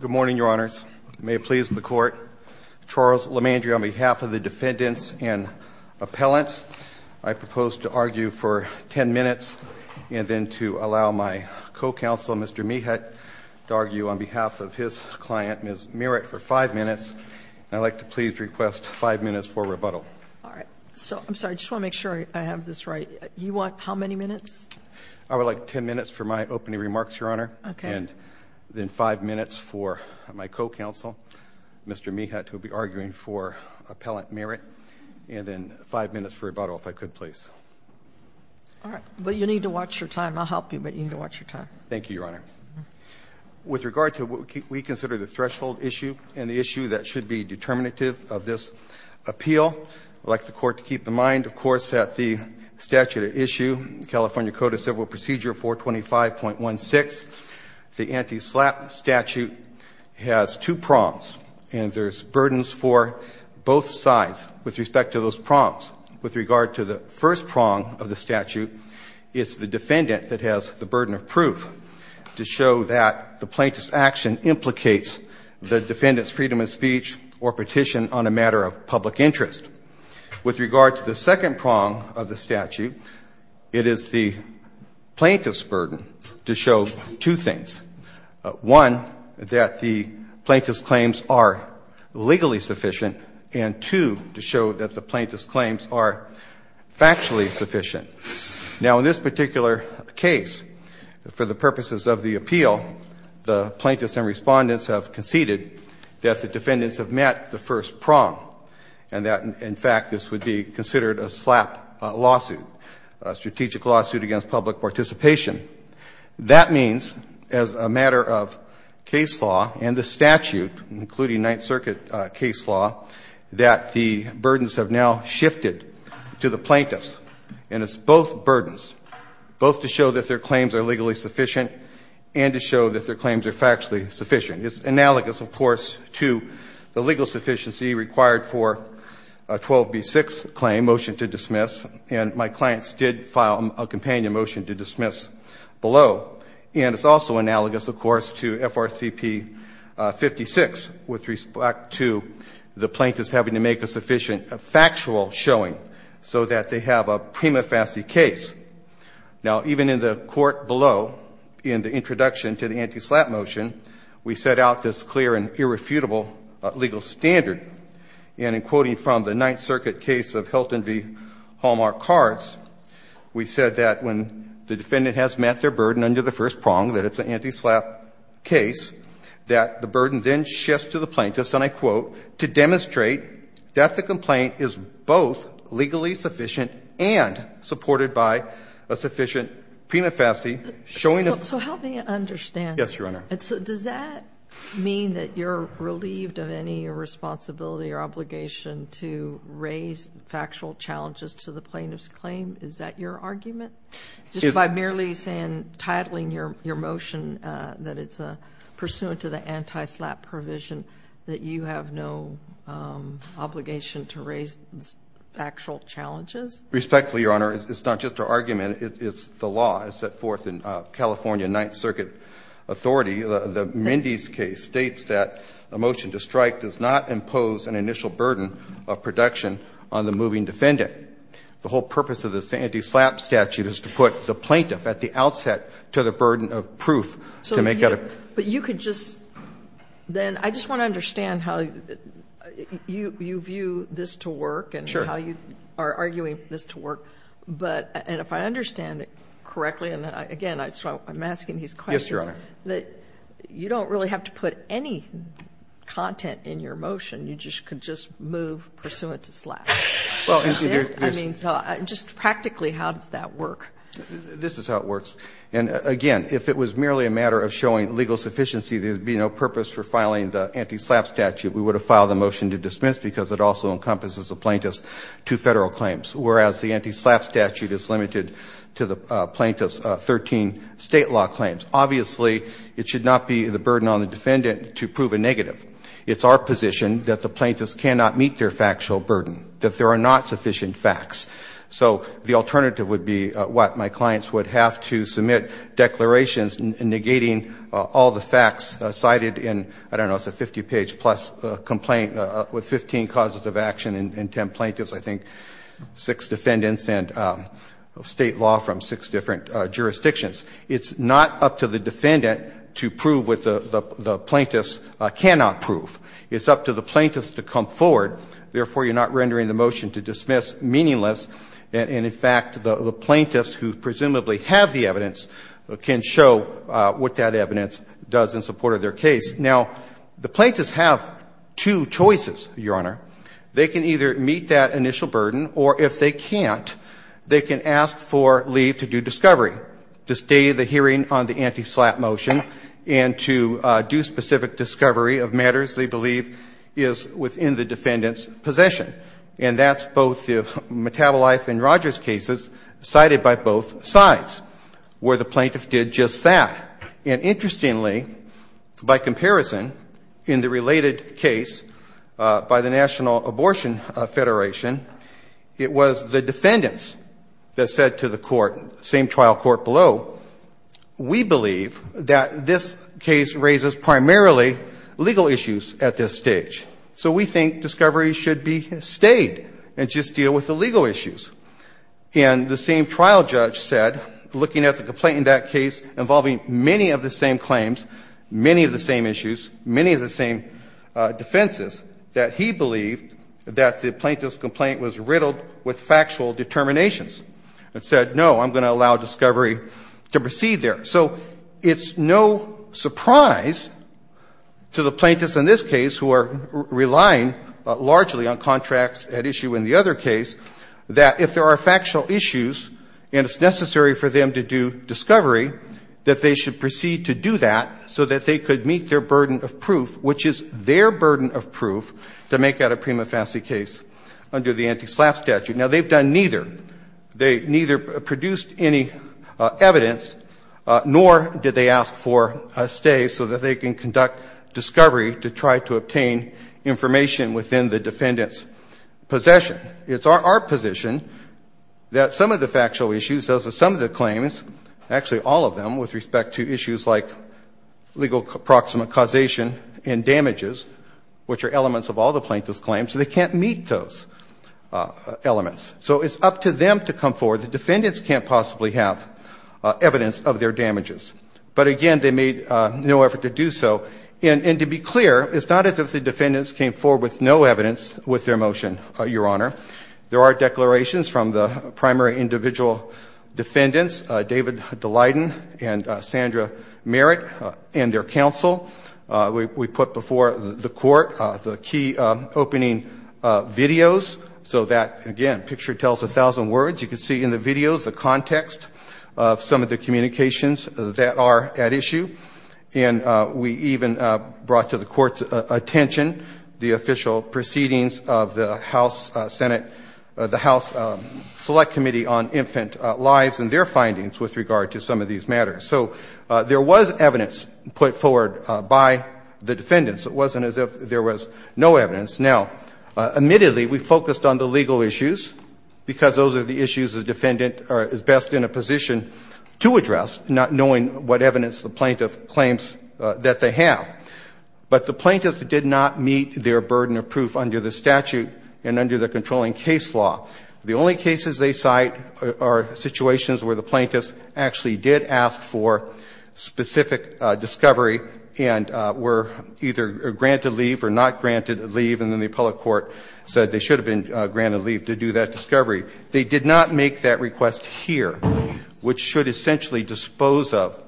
Good morning, Your Honors. May it please the Court, Charles LaMandri on behalf of the defendants and appellants, I propose to argue for ten minutes and then to allow my co-counsel, Mr. Mehat, to argue on behalf of his client, Ms. Merritt, for five minutes. I'd like to please request five minutes for rebuttal. All right. So, I'm sorry, I just want to make sure I have this right. You want how many minutes? I would like ten minutes for my opening remarks, Your Honor. Okay. And then five minutes for my co-counsel, Mr. Mehat, who will be arguing for appellant Merritt. And then five minutes for rebuttal, if I could, please. All right. But you need to watch your time. I'll help you, but you need to watch your time. Thank you, Your Honor. With regard to what we consider the threshold issue and the issue that should be determinative of this appeal, I'd like the Court to keep in mind, of course, that the statute at issue, California Code of Civil Procedure 425.16, the anti-SLAPP statute has two prongs, and there's burdens for both sides with respect to those prongs. With regard to the first prong of the statute, it's the defendant that has the burden of proof to show that the plaintiff's action implicates the defendant's freedom of speech or petition on a matter of public interest. With regard to the second prong of the statute, it is the plaintiff's burden to show two things. One, that the plaintiff's claims are legally sufficient, and, two, to show that the plaintiff's claims are factually sufficient. Now, in this particular case, for the purposes of the appeal, the plaintiffs and Respondents have conceded that the defendants have met the first prong, and that, in fact, this would be considered a SLAPP lawsuit, a strategic lawsuit against public participation. That means, as a matter of case law and the statute, including Ninth Circuit case law, that the burdens have now shifted to the plaintiffs, and it's both burdens, both to show that their claims are legally sufficient and to show that their claims are factually sufficient. It's analogous, of course, to the legal sufficiency required for a 12B6 claim, motion to dismiss, and my clients did file a companion motion to dismiss below. And it's also analogous, of course, to FRCP 56, with respect to the plaintiffs having to make a sufficient factual showing so that they have a prima facie case. Now, even in the court below, in the introduction to the anti-SLAPP motion, we set out this clear and irrefutable legal standard. And in quoting from the Ninth Circuit case of Hilton v. Hallmark Cards, we said that when the defendant has met their burden under the first prong, that it's an anti-SLAPP case, that the burden then shifts to the plaintiffs, and I quote, to demonstrate that the complaint is both legally sufficient and supported by a sufficient prima facie showing of... So help me understand. Yes, Your Honor. So does that mean that you're relieved of any responsibility or obligation to raise factual challenges to the plaintiff's claim? Is that your argument? Just by merely titling your motion that it's pursuant to the anti-SLAPP provision that you have no obligation to raise factual challenges? Respectfully, Your Honor, it's not just our argument. It's the law. It's set forth in California Ninth Circuit authority. The Mendez case states that a motion to strike does not impose an initial burden of production on the moving defendant. The whole purpose of this anti-SLAPP statute is to put the plaintiff at the outset to the burden of proof to make that a... So you could just then – I just want to understand how you view this to work and how you are arguing this to work. And if I understand it correctly, and again, I'm asking these questions, you don't really have to put any content in your motion. You just could just move pursuant to SLAPP. Is that it? I mean, just practically, how does that work? This is how it works. And again, if it was merely a matter of showing legal sufficiency, there would be no purpose for filing the anti-SLAPP statute. We would have filed the motion to dismiss because it also encompasses the plaintiff's two Federal claims, whereas the anti-SLAPP statute is limited to the plaintiff's 13 State law claims. Obviously, it should not be the burden on the defendant to prove a negative. It's our position that the plaintiffs cannot meet their factual burden, that there are not sufficient facts. So the alternative would be what? My clients would have to submit declarations negating all the facts cited in, I don't know, it's a 50-page-plus complaint with 15 causes of action and 10 plaintiffs, I think, 6 defendants, and State law from 6 different jurisdictions. It's not up to the defendant to prove what the plaintiffs cannot prove. It's up to the plaintiffs to come forward. Therefore, you're not rendering the motion to dismiss meaningless. And in fact, the plaintiffs who presumably have the evidence can show what that evidence does in support of their case. Now, the plaintiffs have two choices, Your Honor. They can either meet that initial burden, or if they can't, they can ask for leave to do discovery, to stay the hearing on the anti-SLAPP motion and to do specific discovery of matters they believe is within the defendant's possession. And that's both the Metabolife and Rogers cases cited by both sides, where the plaintiff did just that. And interestingly, by comparison, in the related case by the National Abortion Federation, it was the defendants that said to the court, same trial court below, we believe that this case raises primarily legal issues at this stage. So we think discovery should be stayed and just deal with the legal issues. And the same trial judge said, looking at the complaint in that case involving many of the same claims, many of the same issues, many of the same defenses, that he believed that the plaintiff's complaint was riddled with factual determinations, and said, no, I'm going to allow discovery to proceed there. So it's no surprise to the plaintiffs in this case, who are relying largely on contracts at issue in the other case, that if there are factual issues and it's necessary for them to do discovery, that they should proceed to do that, so that they could meet their burden of proof, which is their burden of proof, to make that a prima facie case under the anti-SLAPP statute. Now, they've done neither. They neither produced any evidence, nor did they ask for a stay, so that they can conduct discovery to try to obtain information within the defendant's possession. It's our position that some of the factual issues, those are some of the claims, actually all of them, with respect to issues like legal proximate causation and damages, which are elements of all the plaintiff's claims, so they can't meet those elements. So it's up to them to come forward. The defendants can't possibly have evidence of their damages. But again, they made no effort to do so. And to be clear, it's not as if the defendants came forward with no evidence with their motion, Your Honor. There are declarations from the primary individual defendants, David Dalyden and Sandra Merritt, and their counsel. We put before the Court the key opening videos, so that, again, the picture tells a thousand words. You can see in the videos the context of some of the communications that are at issue. And we even brought to the Court's attention the official proceedings of the House Select Committee on Infant Lives and their findings with regard to some of these matters. So there was evidence put forward by the defendants. It wasn't as if there was no evidence. Now, admittedly, we focused on the legal issues because those are the issues the defendant is best in a position to address, not knowing what evidence the plaintiff claims that they have. But the plaintiffs did not meet their burden of proof under the statute and under the controlling case law. The only cases they cite are situations where the plaintiffs actually did ask for specific discovery and were either granted leave or not granted leave, and then the appellate court said they should have been granted leave to do that discovery. They did not make that request here, which should essentially dispose of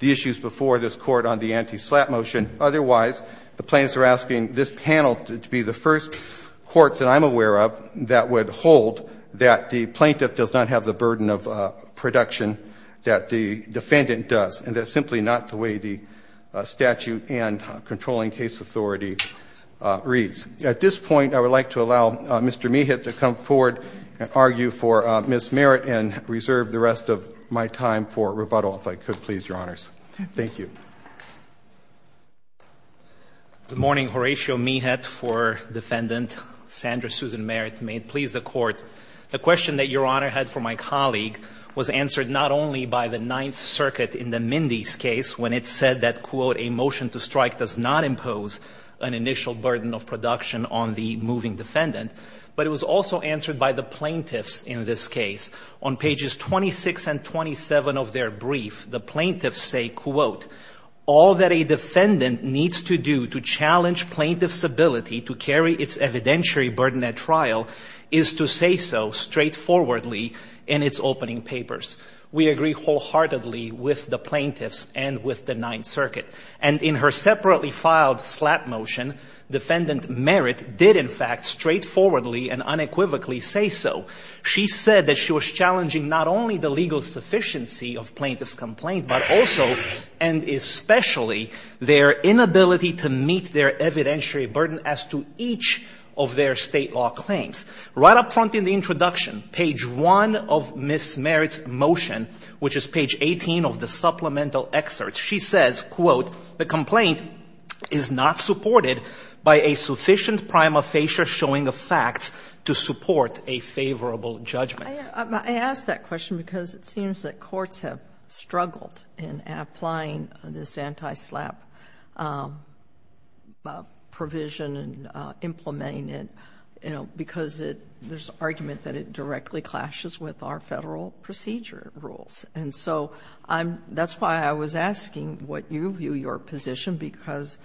the issues before this Court on the anti-SLAPP motion. Otherwise, the plaintiffs are asking this panel to be the first court that I'm aware of that would hold that the plaintiff does not have the burden of production that the defendant does, and that's simply not the way the statute and controlling case authority reads. At this point, I would like to allow Mr. Meehat to come forward and argue for Ms. Merritt and reserve the rest of my time for rebuttal, if I could, please, Your Honors. Thank you. MR. MEEHAT. Good morning, Horatio Meehat for defendant Sandra Susan Merritt. May it please the Court, the question that Your Honor had for my colleague was answered not only by the Ninth Circuit in the Mindy's case when it said that, quote, a motion to strike does not impose an initial burden of production on the moving defendant, but it was also answered by the plaintiffs in this case. On pages 26 and 27 of their brief, the plaintiffs say, quote, all that a defendant needs to do to challenge plaintiff's ability to carry its evidentiary burden at trial is to say so straightforwardly in its opening papers. We agree wholeheartedly with the plaintiffs and with the Ninth Circuit. And in her separately filed slap motion, defendant Merritt did, in fact, straightforwardly and unequivocally say so. She said that she was challenging not only the legal sufficiency of plaintiff's complaint, but also and especially their inability to meet their evidentiary burden as to each of their State law claims. Right up front in the introduction, page 1 of Ms. Merritt's motion, which is page 18 of the supplemental excerpt, she says, quote, the complaint is not supported by a sufficient prima facie showing of facts to support a favorable judgment. I ask that question because it seems that courts have struggled in applying this provision and implementing it, you know, because there's argument that it directly clashes with our Federal procedure rules. And so that's why I was asking what you view your position because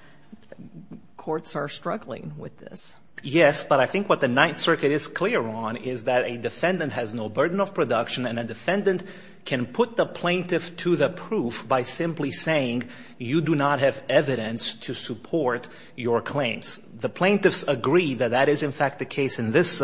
courts are struggling with this. Yes, but I think what the Ninth Circuit is clear on is that a defendant has no burden of production and a defendant can put the plaintiff to the proof by simply saying you do not have evidence to support your claims. The plaintiffs agree that that is in fact the case in this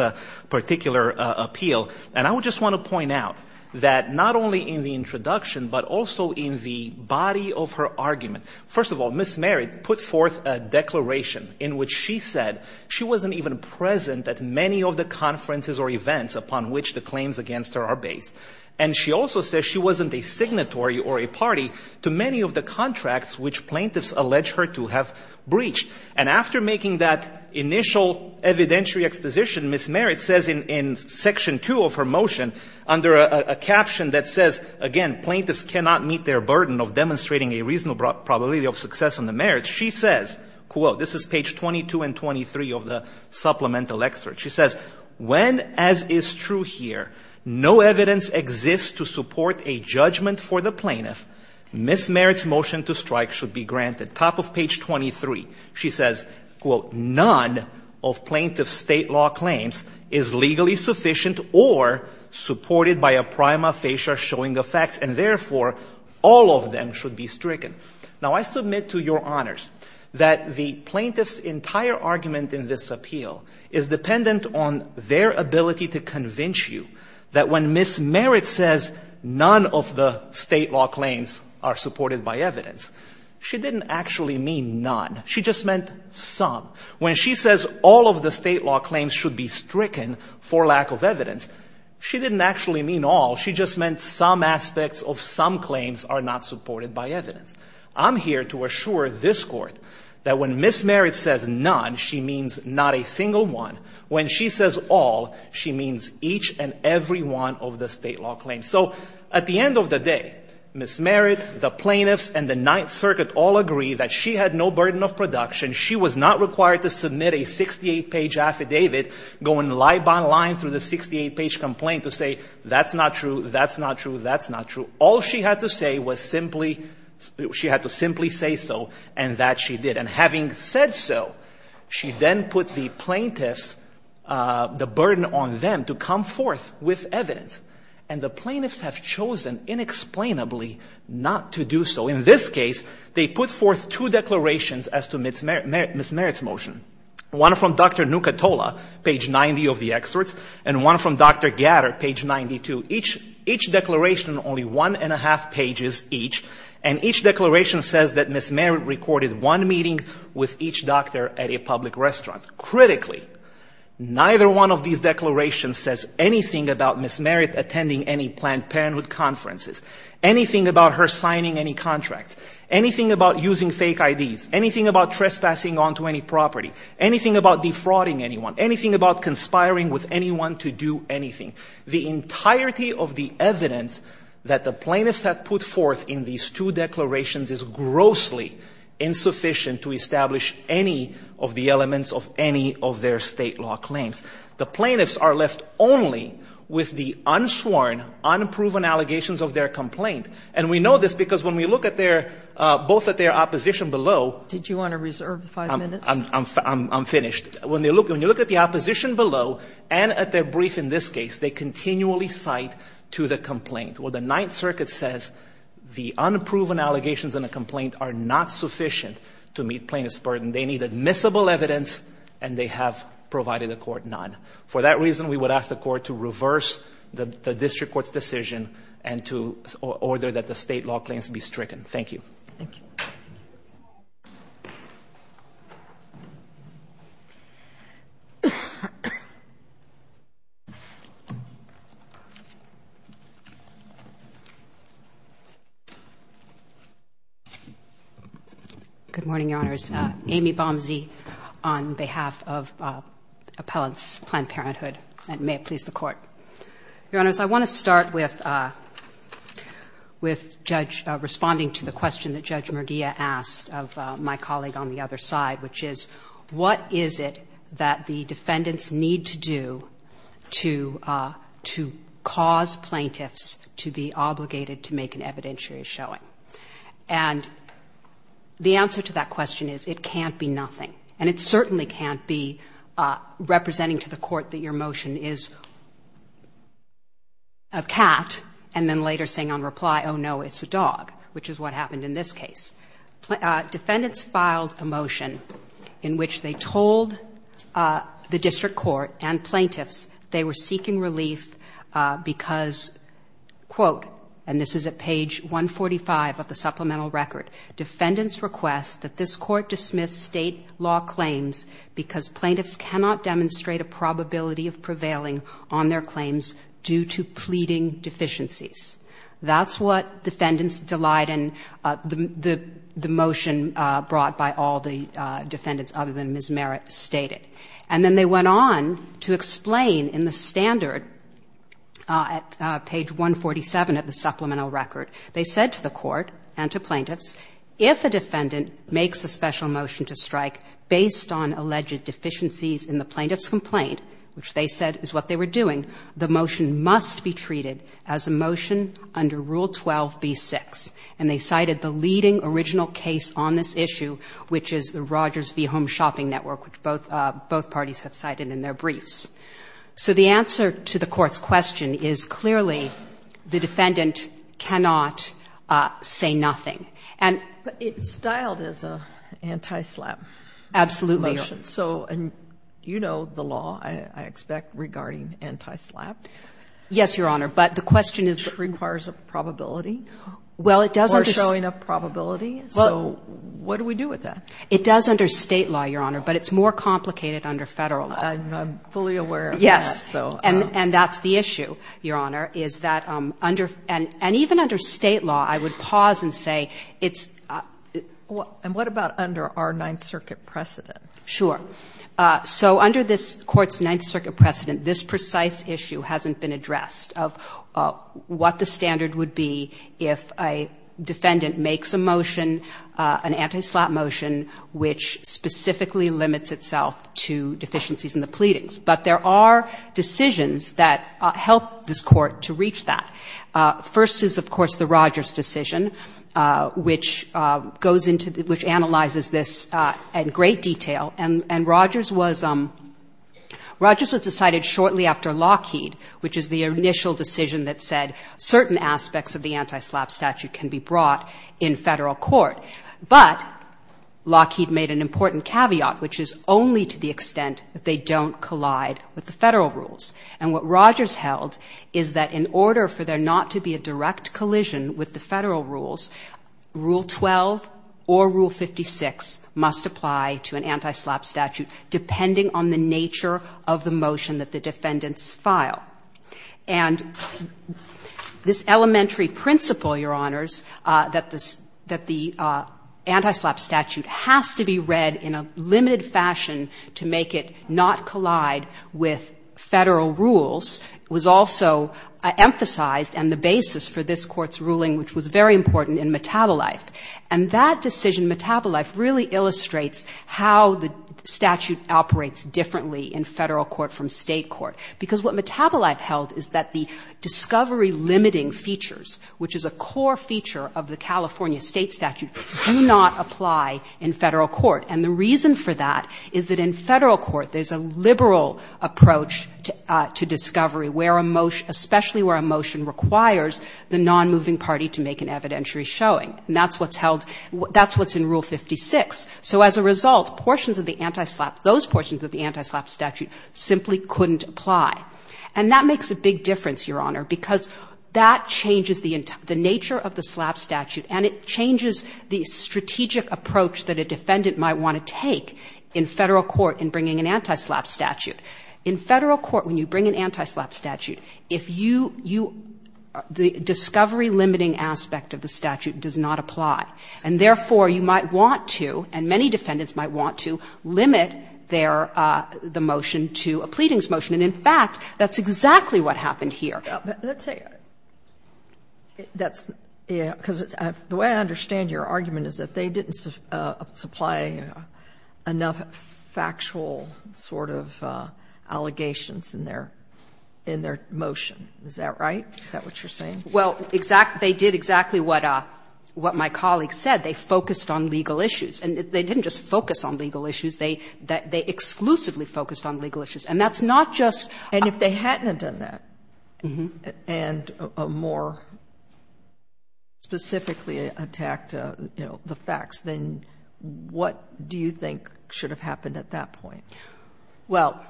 particular appeal. And I would just want to point out that not only in the introduction, but also in the body of her argument, first of all, Ms. Merritt put forth a declaration in which she said she wasn't even present at many of the conferences or events upon which the claims against her are based. And she also says she wasn't a signatory or a party to many of the contracts which plaintiffs allege her to have breached. And after making that initial evidentiary exposition, Ms. Merritt says in Section 2 of her motion under a caption that says, again, plaintiffs cannot meet their burden of demonstrating a reasonable probability of success on the merits, she says, quote this is page 22 and 23 of the supplemental excerpt. She says, when, as is true here, no evidence exists to support a judgment for the plaintiff, Ms. Merritt's motion to strike should be granted. Top of page 23, she says, quote, none of plaintiff's State law claims is legally sufficient or supported by a prima facie showing the facts and therefore all of them should be stricken. Now, I submit to Your Honors that the plaintiff's entire argument in this appeal is dependent on their ability to convince you that when Ms. Merritt says none of the State law claims are supported by evidence, she didn't actually mean none. She just meant some. When she says all of the State law claims should be stricken for lack of evidence, she didn't actually mean all. She just meant some aspects of some claims are not supported by evidence. I'm here to assure this Court that when Ms. Merritt says none, she means not a single one. When she says all, she means each and every one of the State law claims. So at the end of the day, Ms. Merritt, the plaintiffs, and the Ninth Circuit all agree that she had no burden of production. She was not required to submit a 68-page affidavit going line by line through the 68-page complaint to say that's not true, that's not true, that's not true. All she had to say was simply, she had to simply say so, and that she did. And having said so, she then put the plaintiffs, the burden on them to come forth with evidence. And the plaintiffs have chosen inexplicably not to do so. In this case, they put forth two declarations as to Ms. Merritt's motion, one from Dr. Nucatola, page 90 of the excerpts, and one from Dr. Gatter, page 92. Each declaration, only one and a half pages each, and each declaration says that Ms. Merritt had a meeting with each doctor at a public restaurant. Critically, neither one of these declarations says anything about Ms. Merritt attending any Planned Parenthood conferences, anything about her signing any contracts, anything about using fake IDs, anything about trespassing onto any property, anything about defrauding anyone, anything about conspiring with anyone to do anything. The entirety of the evidence that the plaintiffs have put forth in these two declarations is grossly insufficient to establish any of the elements of any of their State law claims. The plaintiffs are left only with the unsworn, unproven allegations of their complaint. And we know this because when we look at their – both at their opposition below – Did you want to reserve five minutes? I'm finished. When you look at the opposition below and at their brief in this case, they continually cite to the complaint. Well, the Ninth Circuit says the unproven allegations in the complaint are not sufficient to meet plaintiff's burden. They need admissible evidence and they have provided the court none. For that reason, we would ask the court to reverse the district court's decision and to order that the State law claims be stricken. Thank you. Thank you. Good morning, Your Honors. Amy Bomsey on behalf of Appellants Planned Parenthood. And may it please the Court. Your Honors, I want to start with Judge – responding to the question that Judge Murgia asked of my colleague on the other side, which is what is it that the defendants need to do to cause plaintiffs to be obligated to make an evidentiary showing? And the answer to that question is it can't be nothing. And it certainly can't be representing to the court that your motion is a cat and then later saying on reply, oh, no, it's a dog, which is what happened in this case. Defendants filed a motion in which they told the district court and plaintiffs they were seeking relief because, quote, and this is at page 145 of the supplemental record, defendants request that this court dismiss State law claims because plaintiffs cannot demonstrate a probability of prevailing on their claims due to pleading deficiencies. That's what defendants delight in the motion brought by all the defendants other than Ms. Merritt stated. And then they went on to explain in the standard at page 147 of the supplemental record, they said to the court and to plaintiffs, if a defendant makes a special motion to strike based on alleged deficiencies in the plaintiff's complaint, which they said is what they were doing, the motion must be treated as a motion under Rule 12b-6. And they cited the leading original case on this issue, which is the Rogers v. Home Shopping Network, which both parties have cited in their briefs. So the answer to the court's question is clearly the defendant cannot say nothing. And ‑‑ But it's styled as an anti‑slap motion. Absolutely. And you know the law, I expect, regarding anti‑slap. Yes, Your Honor. But the question is ‑‑ Which requires a probability. Well, it doesn't. Or showing a probability. So what do we do with that? It does under State law, Your Honor, but it's more complicated under Federal law. I'm fully aware of that. Yes. And that's the issue, Your Honor, is that under ‑‑ and even under State law, I would pause and say it's ‑‑ And what about under our Ninth Circuit precedent? Sure. So under this court's Ninth Circuit precedent, this precise issue hasn't been addressed of what the standard would be if a defendant makes a motion, an anti‑slap motion, which specifically limits itself to deficiencies in the pleadings. But there are decisions that help this court to reach that. First is, of course, the Rogers decision, which goes into the ‑‑ which analyzes this in great detail. And Rogers was ‑‑ Rogers was decided shortly after Lockheed, which is the initial decision that said certain aspects of the anti‑slap statute can be brought in Federal court. But Lockheed made an important caveat, which is only to the extent that they don't collide with the Federal rules. And what Rogers held is that in order for there not to be a direct collision with the Federal rules, Rule 12 or Rule 56 must apply to an anti‑slap statute, depending on the nature of the motion that the defendants file. And this elementary principle, Your Honors, that the anti‑slap statute has to be read in a limited fashion to make it not collide with Federal rules, was also emphasized and the basis for this Court's ruling, which was very important in Metabolife. And that decision, Metabolife, really illustrates how the statute operates differently in Federal court from State court. Because what Metabolife held is that the discovery limiting features, which is a core feature of the California State statute, do not apply in Federal court. And the reason for that is that in Federal court there's a liberal approach to discovery where a motion ‑‑ especially where a motion requires the non‑moving party to make an evidentiary showing. And that's what's held ‑‑ that's what's in Rule 56. So as a result, portions of the anti‑slap ‑‑ those portions of the anti‑slap statute simply couldn't apply. And that makes a big difference, Your Honor, because that changes the nature of the slap statute, and it changes the strategic approach that a defendant might want to take in Federal court in bringing an anti‑slap statute. In Federal court, when you bring an anti‑slap statute, if you ‑‑ the discovery limiting aspect of the statute does not apply. And, therefore, you might want to, and many defendants might want to, limit their ‑‑ the motion to a pleadings motion. And, in fact, that's exactly what happened here. Let's say ‑‑ that's ‑‑ because the way I understand your argument is that they didn't supply enough factual sort of allegations in their motion. Is that right? Is that what you're saying? Well, they did exactly what my colleague said. They focused on legal issues. And they didn't just focus on legal issues. They exclusively focused on legal issues. And that's not just ‑‑ And if they hadn't have done that and more specifically attacked, you know, the facts, then what do you think should have happened at that point? Well,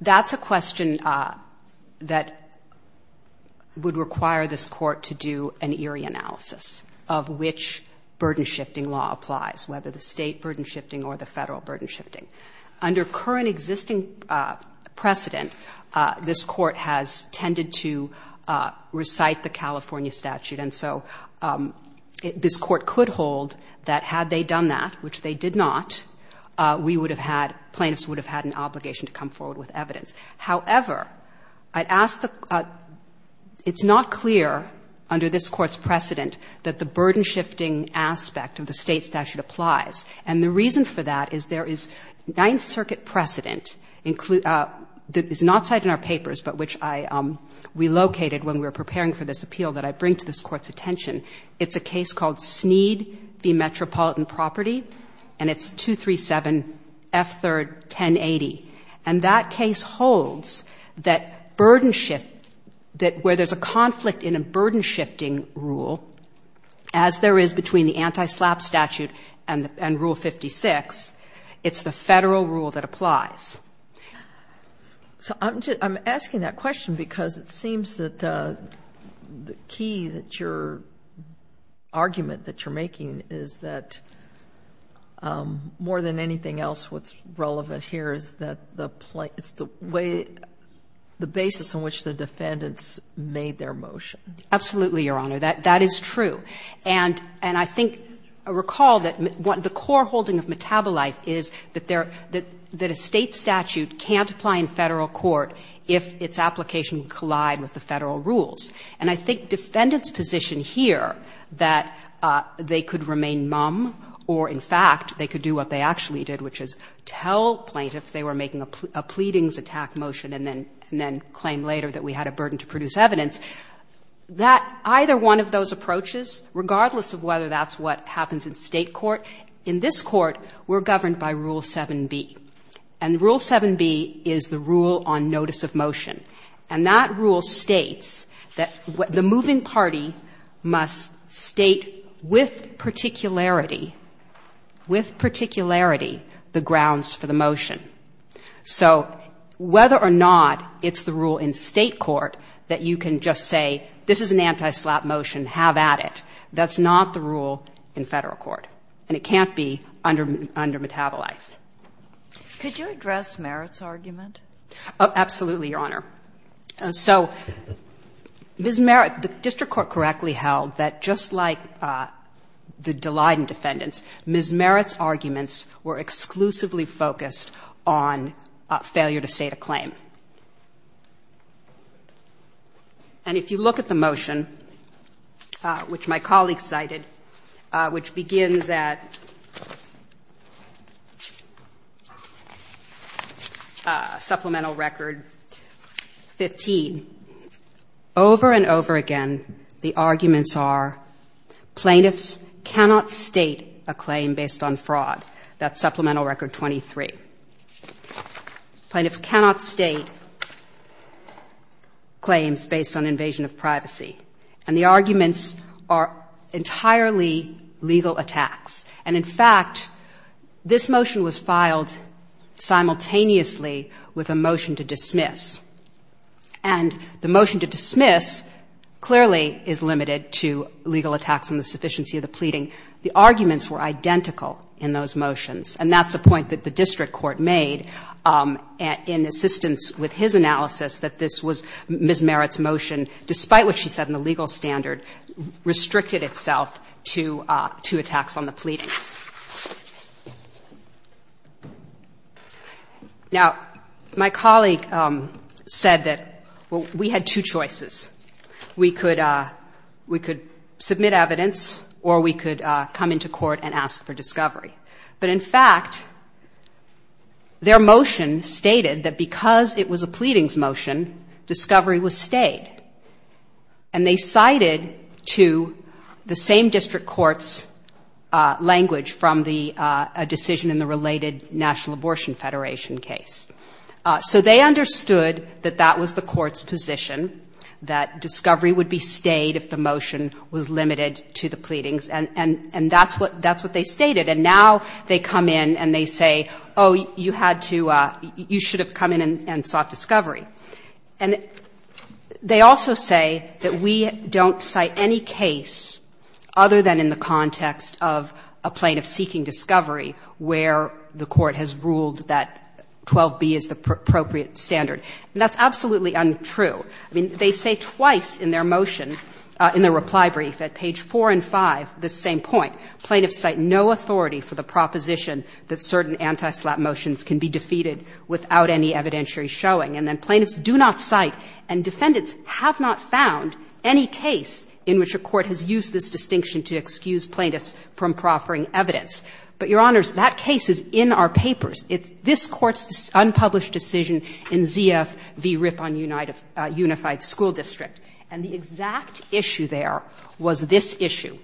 that's a question that would require this court to do an ERI analysis of which burden shifting law applies, whether the State burden shifting or the Federal burden shifting. Under current existing precedent, this court has tended to recite the California statute. And so this court could hold that had they done that, which they did not, we would have had ‑‑ plaintiffs would have had an obligation to come forward with evidence. However, I'd ask the ‑‑ it's not clear under this court's precedent that the burden shifting aspect of the State statute applies. And the reason for that is there is Ninth Circuit precedent that is not cited in our papers, but which I relocated when we were preparing for this appeal that I bring to this court's attention. It's a case called Snead v. Metropolitan Property. And it's 237 F. 3rd. 1080. And that case holds that burden shift, that where there's a conflict in a burden shifting rule, as there is between the anti‑slap statute and rule 56, it's the Federal rule that applies. So I'm asking that question because it seems that the key that your argument that you're making is that more than anything else what's relevant here is that the ‑‑ it's the way, the basis on which the defendants made their motion. Absolutely, Your Honor. That is true. And I think ‑‑ I recall that the core holding of Metabolife is that a State statute can't apply in Federal court if its application would collide with the Federal rules. And I think defendants' position here that they could remain mum or, in fact, they could do what they actually did, which is tell plaintiffs they were making a pleadings attack motion and then claim later that we had a burden to produce evidence. That either one of those approaches, regardless of whether that's what happens in State court, in this court we're governed by Rule 7B. And Rule 7B is the rule on notice of motion. And that rule states that the moving party must state with particularity, with particularity, the grounds for the motion. So whether or not it's the rule in State court that you can just say this is an anti‑slap motion, have at it, that's not the rule in Federal court. And it can't be under Metabolife. Could you address Merritt's argument? Absolutely, Your Honor. So Ms. Merritt, the district court correctly held that just like the Dalyden defendants, Ms. Merritt's arguments were exclusively focused on failure to state a claim. And if you look at the motion, which my colleague cited, which begins at supplemental record 15, over and over again the arguments are plaintiffs cannot state a claim. A claim based on fraud. That's supplemental record 23. Plaintiffs cannot state claims based on invasion of privacy. And the arguments are entirely legal attacks. And, in fact, this motion was filed simultaneously with a motion to dismiss. And the motion to dismiss clearly is limited to legal attacks and the sufficiency of the pleading. The arguments were identical in those motions. And that's a point that the district court made in assistance with his analysis that this was Ms. Merritt's motion, despite what she said in the legal standard, restricted itself to attacks on the pleadings. Now, my colleague said that we had two choices. We could submit evidence or we could come into court and ask for discovery. But, in fact, their motion stated that because it was a pleadings motion, discovery was stayed. And they cited to the same district court's language from the decision in the related National Abortion Federation case. So they understood that that was the court's position, that discovery would be stayed if the motion was limited to the pleadings. And that's what they stated. And now they come in and they say, oh, you had to, you should have come in and sought discovery. And they also say that we don't cite any case other than in the context of a case in which a court has ruled that 12b is the appropriate standard. And that's absolutely untrue. I mean, they say twice in their motion, in their reply brief at page 4 and 5, the same point. Plaintiffs cite no authority for the proposition that certain antislap motions can be defeated without any evidentiary showing. And then plaintiffs do not cite and defendants have not found any case in which a court has used this distinction to excuse plaintiffs from proffering evidence. But, Your Honors, that case is in our papers. It's this Court's unpublished decision in ZF v. Ripon Unified School District. And the exact issue there was this issue.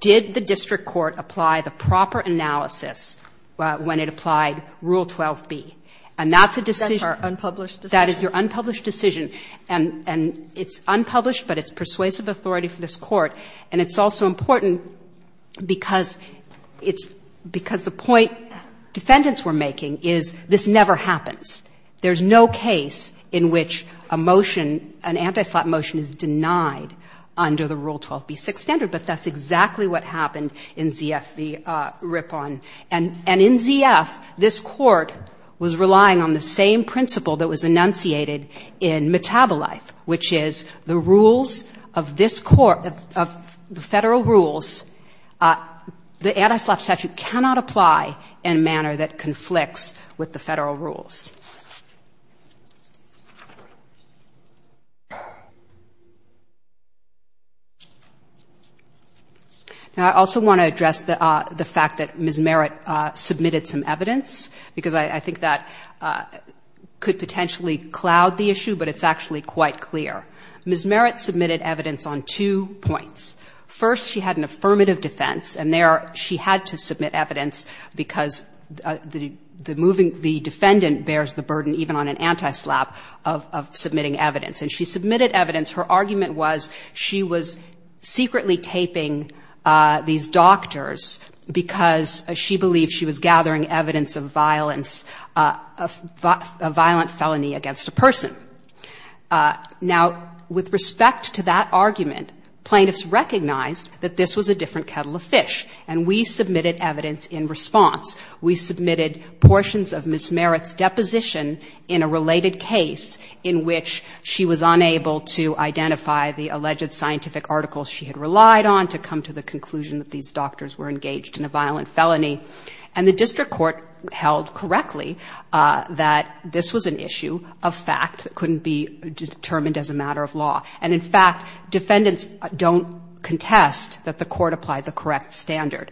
Did the district court apply the proper analysis when it applied Rule 12b? And that's a decision. Kagan. That's our unpublished decision? That is your unpublished decision. And it's unpublished, but it's persuasive authority for this Court. And it's also important because it's – because the point defendants were making is this never happens. There's no case in which a motion, an antislap motion is denied under the Rule 12b-6 standard. But that's exactly what happened in ZF v. Ripon. And in ZF, this Court was relying on the same principle that was enunciated in Metabolife, which is the rules of this Court, the Federal rules, the antislap statute cannot apply in a manner that conflicts with the Federal rules. Now, I also want to address the fact that Ms. Merritt submitted some evidence, because I think that could potentially cloud the issue, but it's actually quite clear. Ms. Merritt submitted evidence on two points. First, she had an affirmative defense, and there she had to submit evidence because the moving – the defendant bears the burden even on an antislap of submitting evidence. And she submitted evidence. Her argument was she was secretly taping these doctors because she believed she was engaging in violence, a violent felony against a person. Now, with respect to that argument, plaintiffs recognized that this was a different kettle of fish, and we submitted evidence in response. We submitted portions of Ms. Merritt's deposition in a related case in which she was unable to identify the alleged scientific articles she had relied on to come to the conclusion that these doctors were engaged in a violent felony. And the district court held correctly that this was an issue of fact that couldn't be determined as a matter of law. And in fact, defendants don't contest that the court applied the correct standard.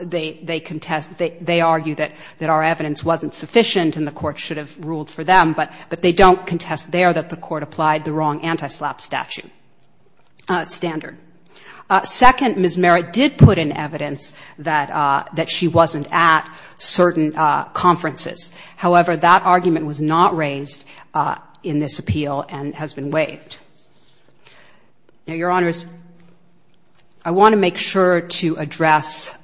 They contest – they argue that our evidence wasn't sufficient and the court should have ruled for them, but they don't contest there that the court applied the wrong antislap statute standard. Second, Ms. Merritt did put in evidence that she wasn't at certain conferences. However, that argument was not raised in this appeal and has been waived. Now, Your Honors, I want to make sure to address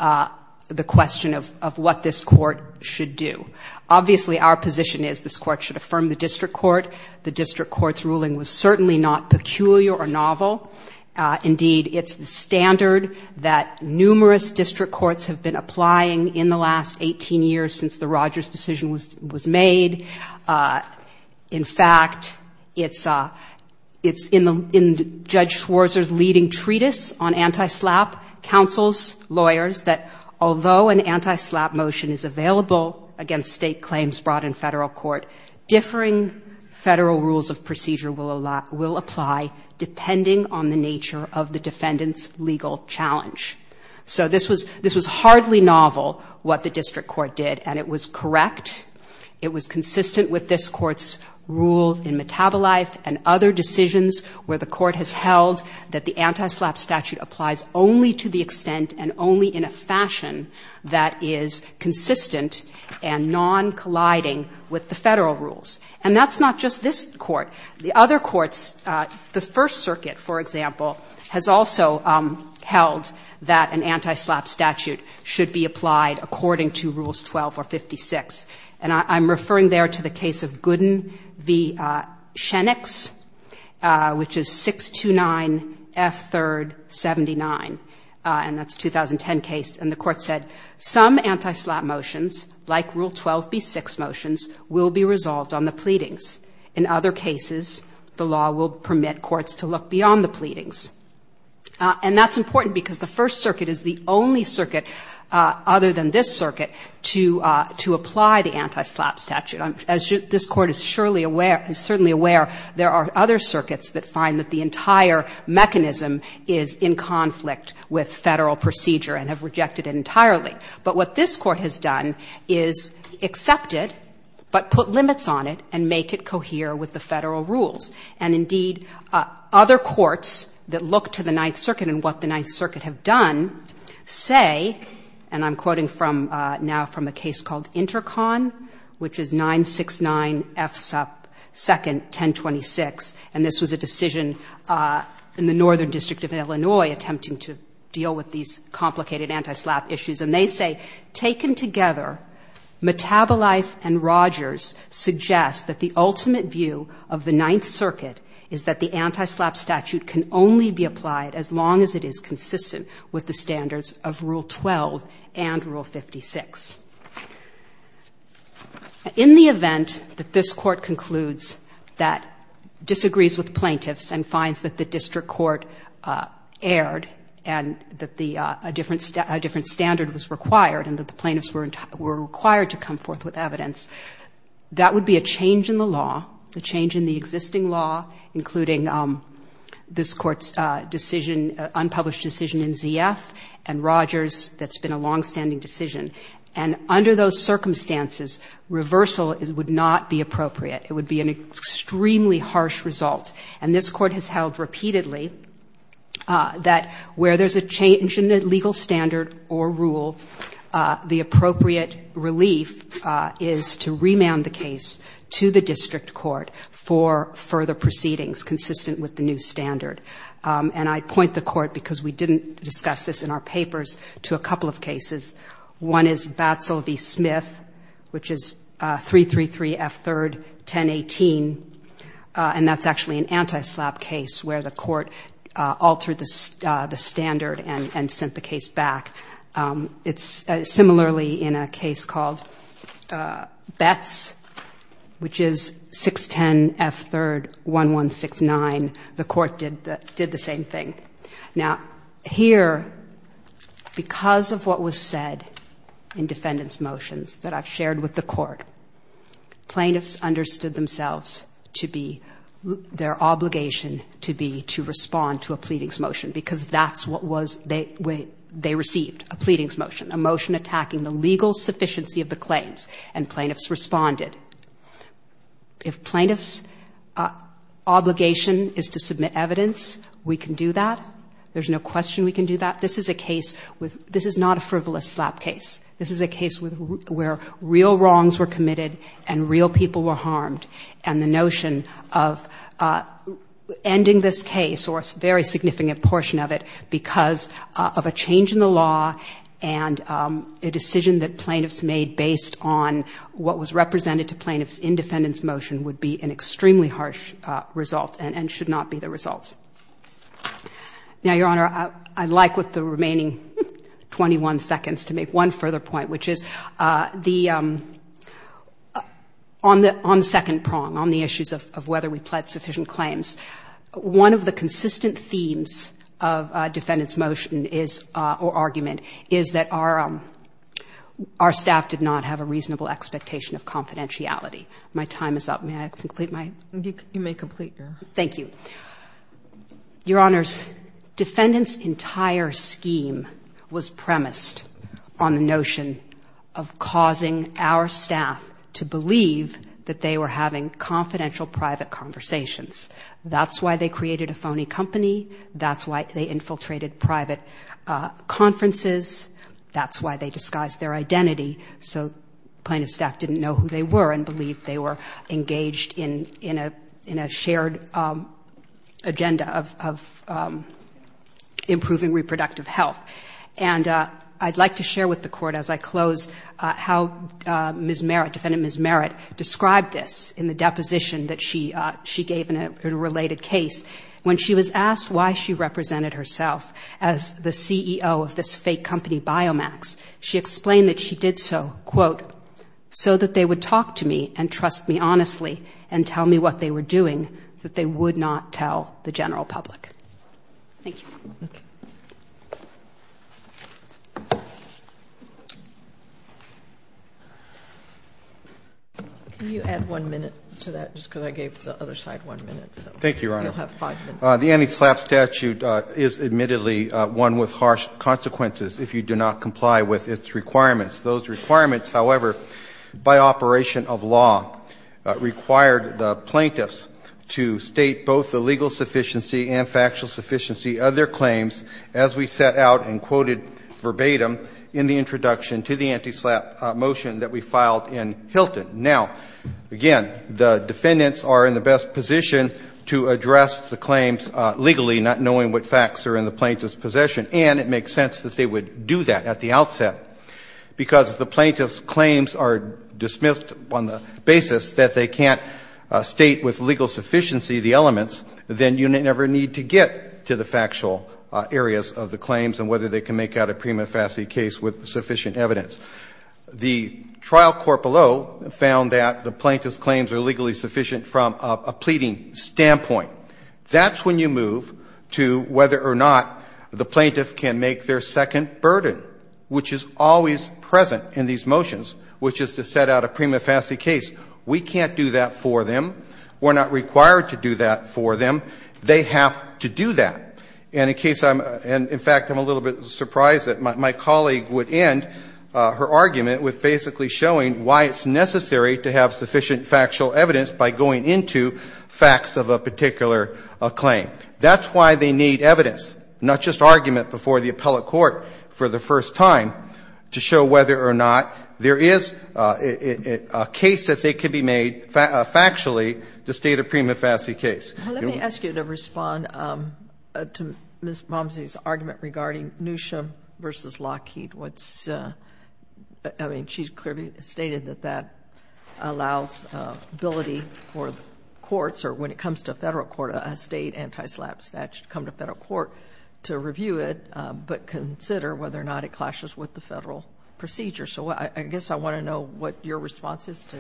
the question of what this court should do. Obviously, our position is this court should affirm the district court. The district court's ruling was certainly not peculiar or novel. Indeed, it's the standard that numerous district courts have been applying in the last 18 years since the Rogers decision was made. In fact, it's in Judge Schwarzer's leading treatise on antislap, counsel's lawyers, that although an antislap motion is available against State claims brought in Federal court, differing Federal rules of procedure will apply depending on the nature of the defendant's legal challenge. So this was hardly novel, what the district court did, and it was correct. It was consistent with this court's rule in metabolite and other decisions where the court has held that the antislap statute applies only to the extent and only in a fashion that is consistent and non-colliding with the Federal rules. And that's not just this court. The other courts, the First Circuit, for example, has also held that an antislap statute should be applied according to Rules 12 or 56. And I'm referring there to the case of Gooden v. Shenix, which is 629F3rd79, and that's a 2010 case, and the court said some antislap motions, like Rule 12B6 motions, will be resolved on the pleadings. In other cases, the law will permit courts to look beyond the pleadings. And that's important because the First Circuit is the only circuit other than this circuit to apply the antislap statute. As this court is surely aware, is certainly aware, there are other circuits that find that the entire mechanism is in conflict with Federal procedure and have rejected it entirely. But what this court has done is accept it, but put limits on it and make it cohere with the Federal rules. And, indeed, other courts that look to the Ninth Circuit and what the Ninth Circuit have done say, and I'm quoting now from a case called Intercon, which is 969F2nd1026, and this was a decision in the Northern District of Illinois attempting to deal with these complicated antislap issues. And they say, taken together, Metabolife and Rogers suggest that the ultimate view of the Ninth Circuit is that the antislap statute can only be applied as long as it is consistent with the standards of Rule 12 and Rule 56. In the event that this court concludes that disagrees with plaintiffs and finds that the district court erred and that a different standard was required and that the plaintiffs were required to come forth with evidence, that would be a change in the law, a change in the existing law, including this court's decision, unpublished decision in Z.F. and Rogers that's been a longstanding decision. And under those circumstances, reversal would not be appropriate. It would be an extremely harsh result. And this court has held repeatedly that where there's a change in the legal standard or rule, the appropriate relief is to remand the case to the district court for further proceedings consistent with the new standard. And I point the court, because we didn't discuss this in our papers, to a couple of cases. One is Batsel v. Smith, which is 333 F. 3rd, 1018, and that's actually an antislap case where the court altered the standard and sent the case back. It's similarly in a case called Betz, which is 610 F. 3rd, 1169. The court did the same thing. Now, here, because of what was said in defendant's motions that I've shared with the court, plaintiffs understood themselves to be, their obligation to be, to respond to a pleading's motion, because that's what they received, a pleading's motion, a motion attacking the legal sufficiency of the claims, and plaintiffs responded. If plaintiff's obligation is to submit evidence, we can do that. There's no question we can do that. This is a case with, this is not a frivolous slap case. This is a case where real wrongs were committed and real people were harmed, and the notion of ending this case, or a very significant portion of it, because of a change in the law and a decision that plaintiffs made based on what was represented to plaintiffs in defendant's motion would be an extremely harsh result and should not be the result. Now, Your Honor, I'd like, with the remaining 21 seconds, to make one further point, which is the, on the second prong, on the issues of whether we pled sufficient claims, one of the consistent themes of defendant's motion is, or argument, is that our staff did not have a reasonable expectation of confidentiality. My time is up. May I complete my? You may complete your. Thank you. Your Honors, defendant's entire scheme was premised on the notion of causing our staff to believe that they were having confidential private conversations. That's why they created a phony company. That's why they infiltrated private conferences. That's why they disguised their identity so plaintiff's staff didn't know who they were and believed they were engaged in a shared agenda of improving reproductive health. And I'd like to share with the Court, as I close, how Ms. Merritt, defendant Ms. Merritt, described this in the deposition that she gave in a related case. When she was asked why she represented herself as the CEO of this fake company Biomax, she explained that she did so, quote, so that they would talk to me and trust me honestly and tell me what they were doing, that they would not tell the general public. Thank you. Can you add one minute to that, just because I gave the other side one minute? Thank you, Your Honor. The anti-SLAPP statute is admittedly one with harsh consequences if you do not comply with its requirements. Those requirements, however, by operation of law, required the plaintiffs to state both the legal sufficiency and factual sufficiency of their claims as we set out and quoted verbatim in the introduction to the anti-SLAPP motion that we filed in Hilton. Now, again, the defendants are in the best position to address the claims legally, not knowing what facts are in the plaintiff's possession, and it makes sense that they would do that at the outset, because if the plaintiff's claims are dismissed on the basis that they can't state with legal sufficiency the elements, then you never need to get to the factual areas of the claims and whether they can make out a prima facie case with sufficient evidence. The trial court below found that the plaintiff's claims are legally sufficient from a pleading standpoint. That's when you move to whether or not the plaintiff can make their second burden, which is always present in these motions, which is to set out a prima facie case. We can't do that for them. We're not required to do that for them. They have to do that. And in case I'm — and, in fact, I'm a little bit surprised that my colleague would end her argument with basically showing why it's necessary to have sufficient factual evidence by going into facts of a particular claim. That's why they need evidence, not just argument before the appellate court for the first time, to show whether or not there is a case that they could be made factually to state a prima facie case. Thank you. Let me ask you to respond to Ms. Malmesy's argument regarding Newsham v. Lockheed, what's — I mean, she's clearly stated that that allows ability for courts, or when it comes to a Federal court, a State anti-SLAPP statute to come to a Federal court to review it, but consider whether or not it clashes with the Federal procedure. So I guess I want to know what your response is to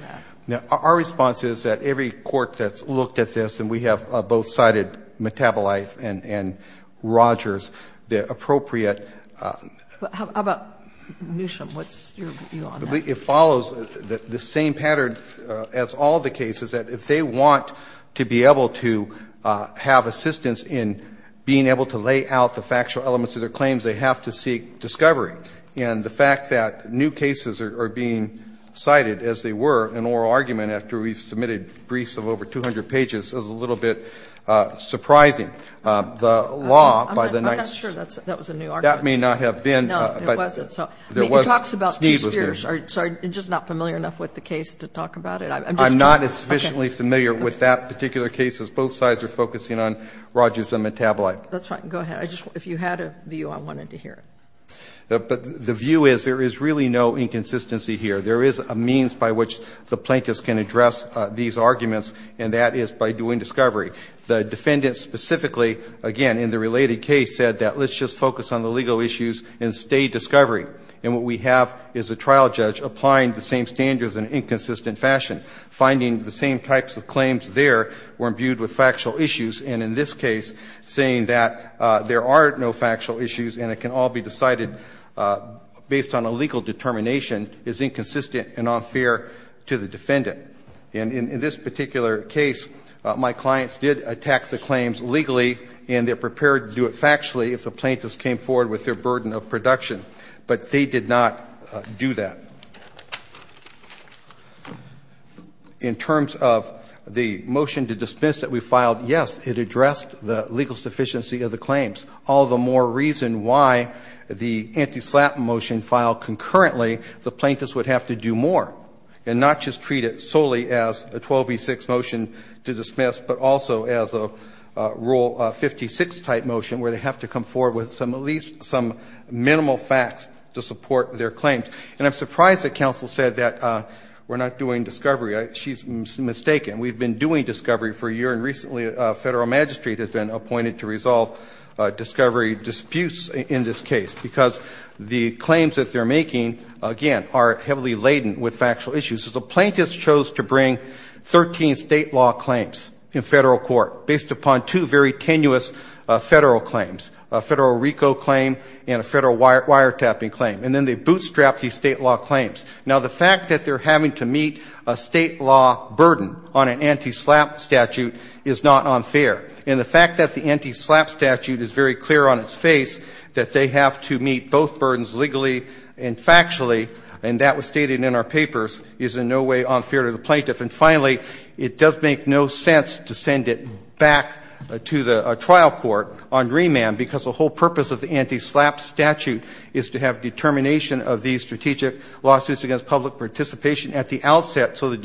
that. Our response is that every court that's looked at this, and we have both-sided Metabolife and Rogers, the appropriate- How about Newsham? What's your view on that? It follows the same pattern as all the cases, that if they want to be able to have assistance in being able to lay out the factual elements of their claims, they have to seek discovery. And the fact that new cases are being cited, as they were in oral argument after we've submitted briefs of over 200 pages, is a little bit surprising. The law, by the night's- I'm not sure that was a new argument. That may not have been, but- No, it wasn't. There was- It talks about two spheres. Sorry. You're just not familiar enough with the case to talk about it? I'm not sufficiently familiar with that particular case, as both sides are focusing on Rogers and Metabolife. That's fine. Go ahead. If you had a view, I wanted to hear it. But the view is there is really no inconsistency here. There is a means by which the plaintiffs can address these arguments, and that is by doing discovery. The defendant specifically, again, in the related case, said that let's just focus on the legal issues and stay discovery. And what we have is a trial judge applying the same standards in an inconsistent fashion, finding the same types of claims there were imbued with factual issues, and in this case, saying that there are no factual issues and it can all be decided based on a legal determination is inconsistent and unfair to the defendant. And in this particular case, my clients did attack the claims legally, and they're prepared to do it factually if the plaintiffs came forward with their burden of production. But they did not do that. In terms of the motion to dismiss that we filed, yes, it addressed the legal insufficiency of the claims, all the more reason why the anti-SLAPP motion filed concurrently, the plaintiffs would have to do more and not just treat it solely as a 12B6 motion to dismiss, but also as a Rule 56 type motion where they have to come forward with at least some minimal facts to support their claims. And I'm surprised that counsel said that we're not doing discovery. She's mistaken. We've been doing discovery for a year, and recently a federal magistrate has been appointed to resolve discovery disputes in this case, because the claims that they're making, again, are heavily laden with factual issues. So the plaintiffs chose to bring 13 state law claims in federal court based upon two very tenuous federal claims, a federal RICO claim and a federal wiretapping claim, and then they bootstrapped these state law claims. Now, the fact that they're having to meet a state law burden on an anti-SLAPP statute is not unfair. And the fact that the anti-SLAPP statute is very clear on its face, that they have to meet both burdens legally and factually, and that was stated in our papers, is in no way unfair to the plaintiff. And finally, it does make no sense to send it back to the trial court on remand, because the whole purpose of the anti-SLAPP statute is to have determination of these strategic lawsuits against public participation at the outset, so the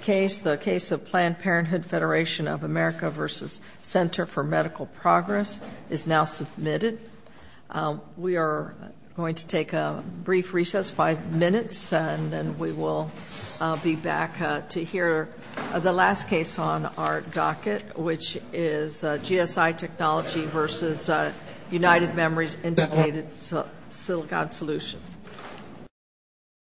case of Planned Parenthood Federation of America v. Center for Medical Progress is now submitted. We are going to take a brief recess, 5 minutes, and then we will be back to hear the last case on our docket, which is GSI Technology v. America v. Center for Medical Progress. United Memories Indicated Silicon Solution.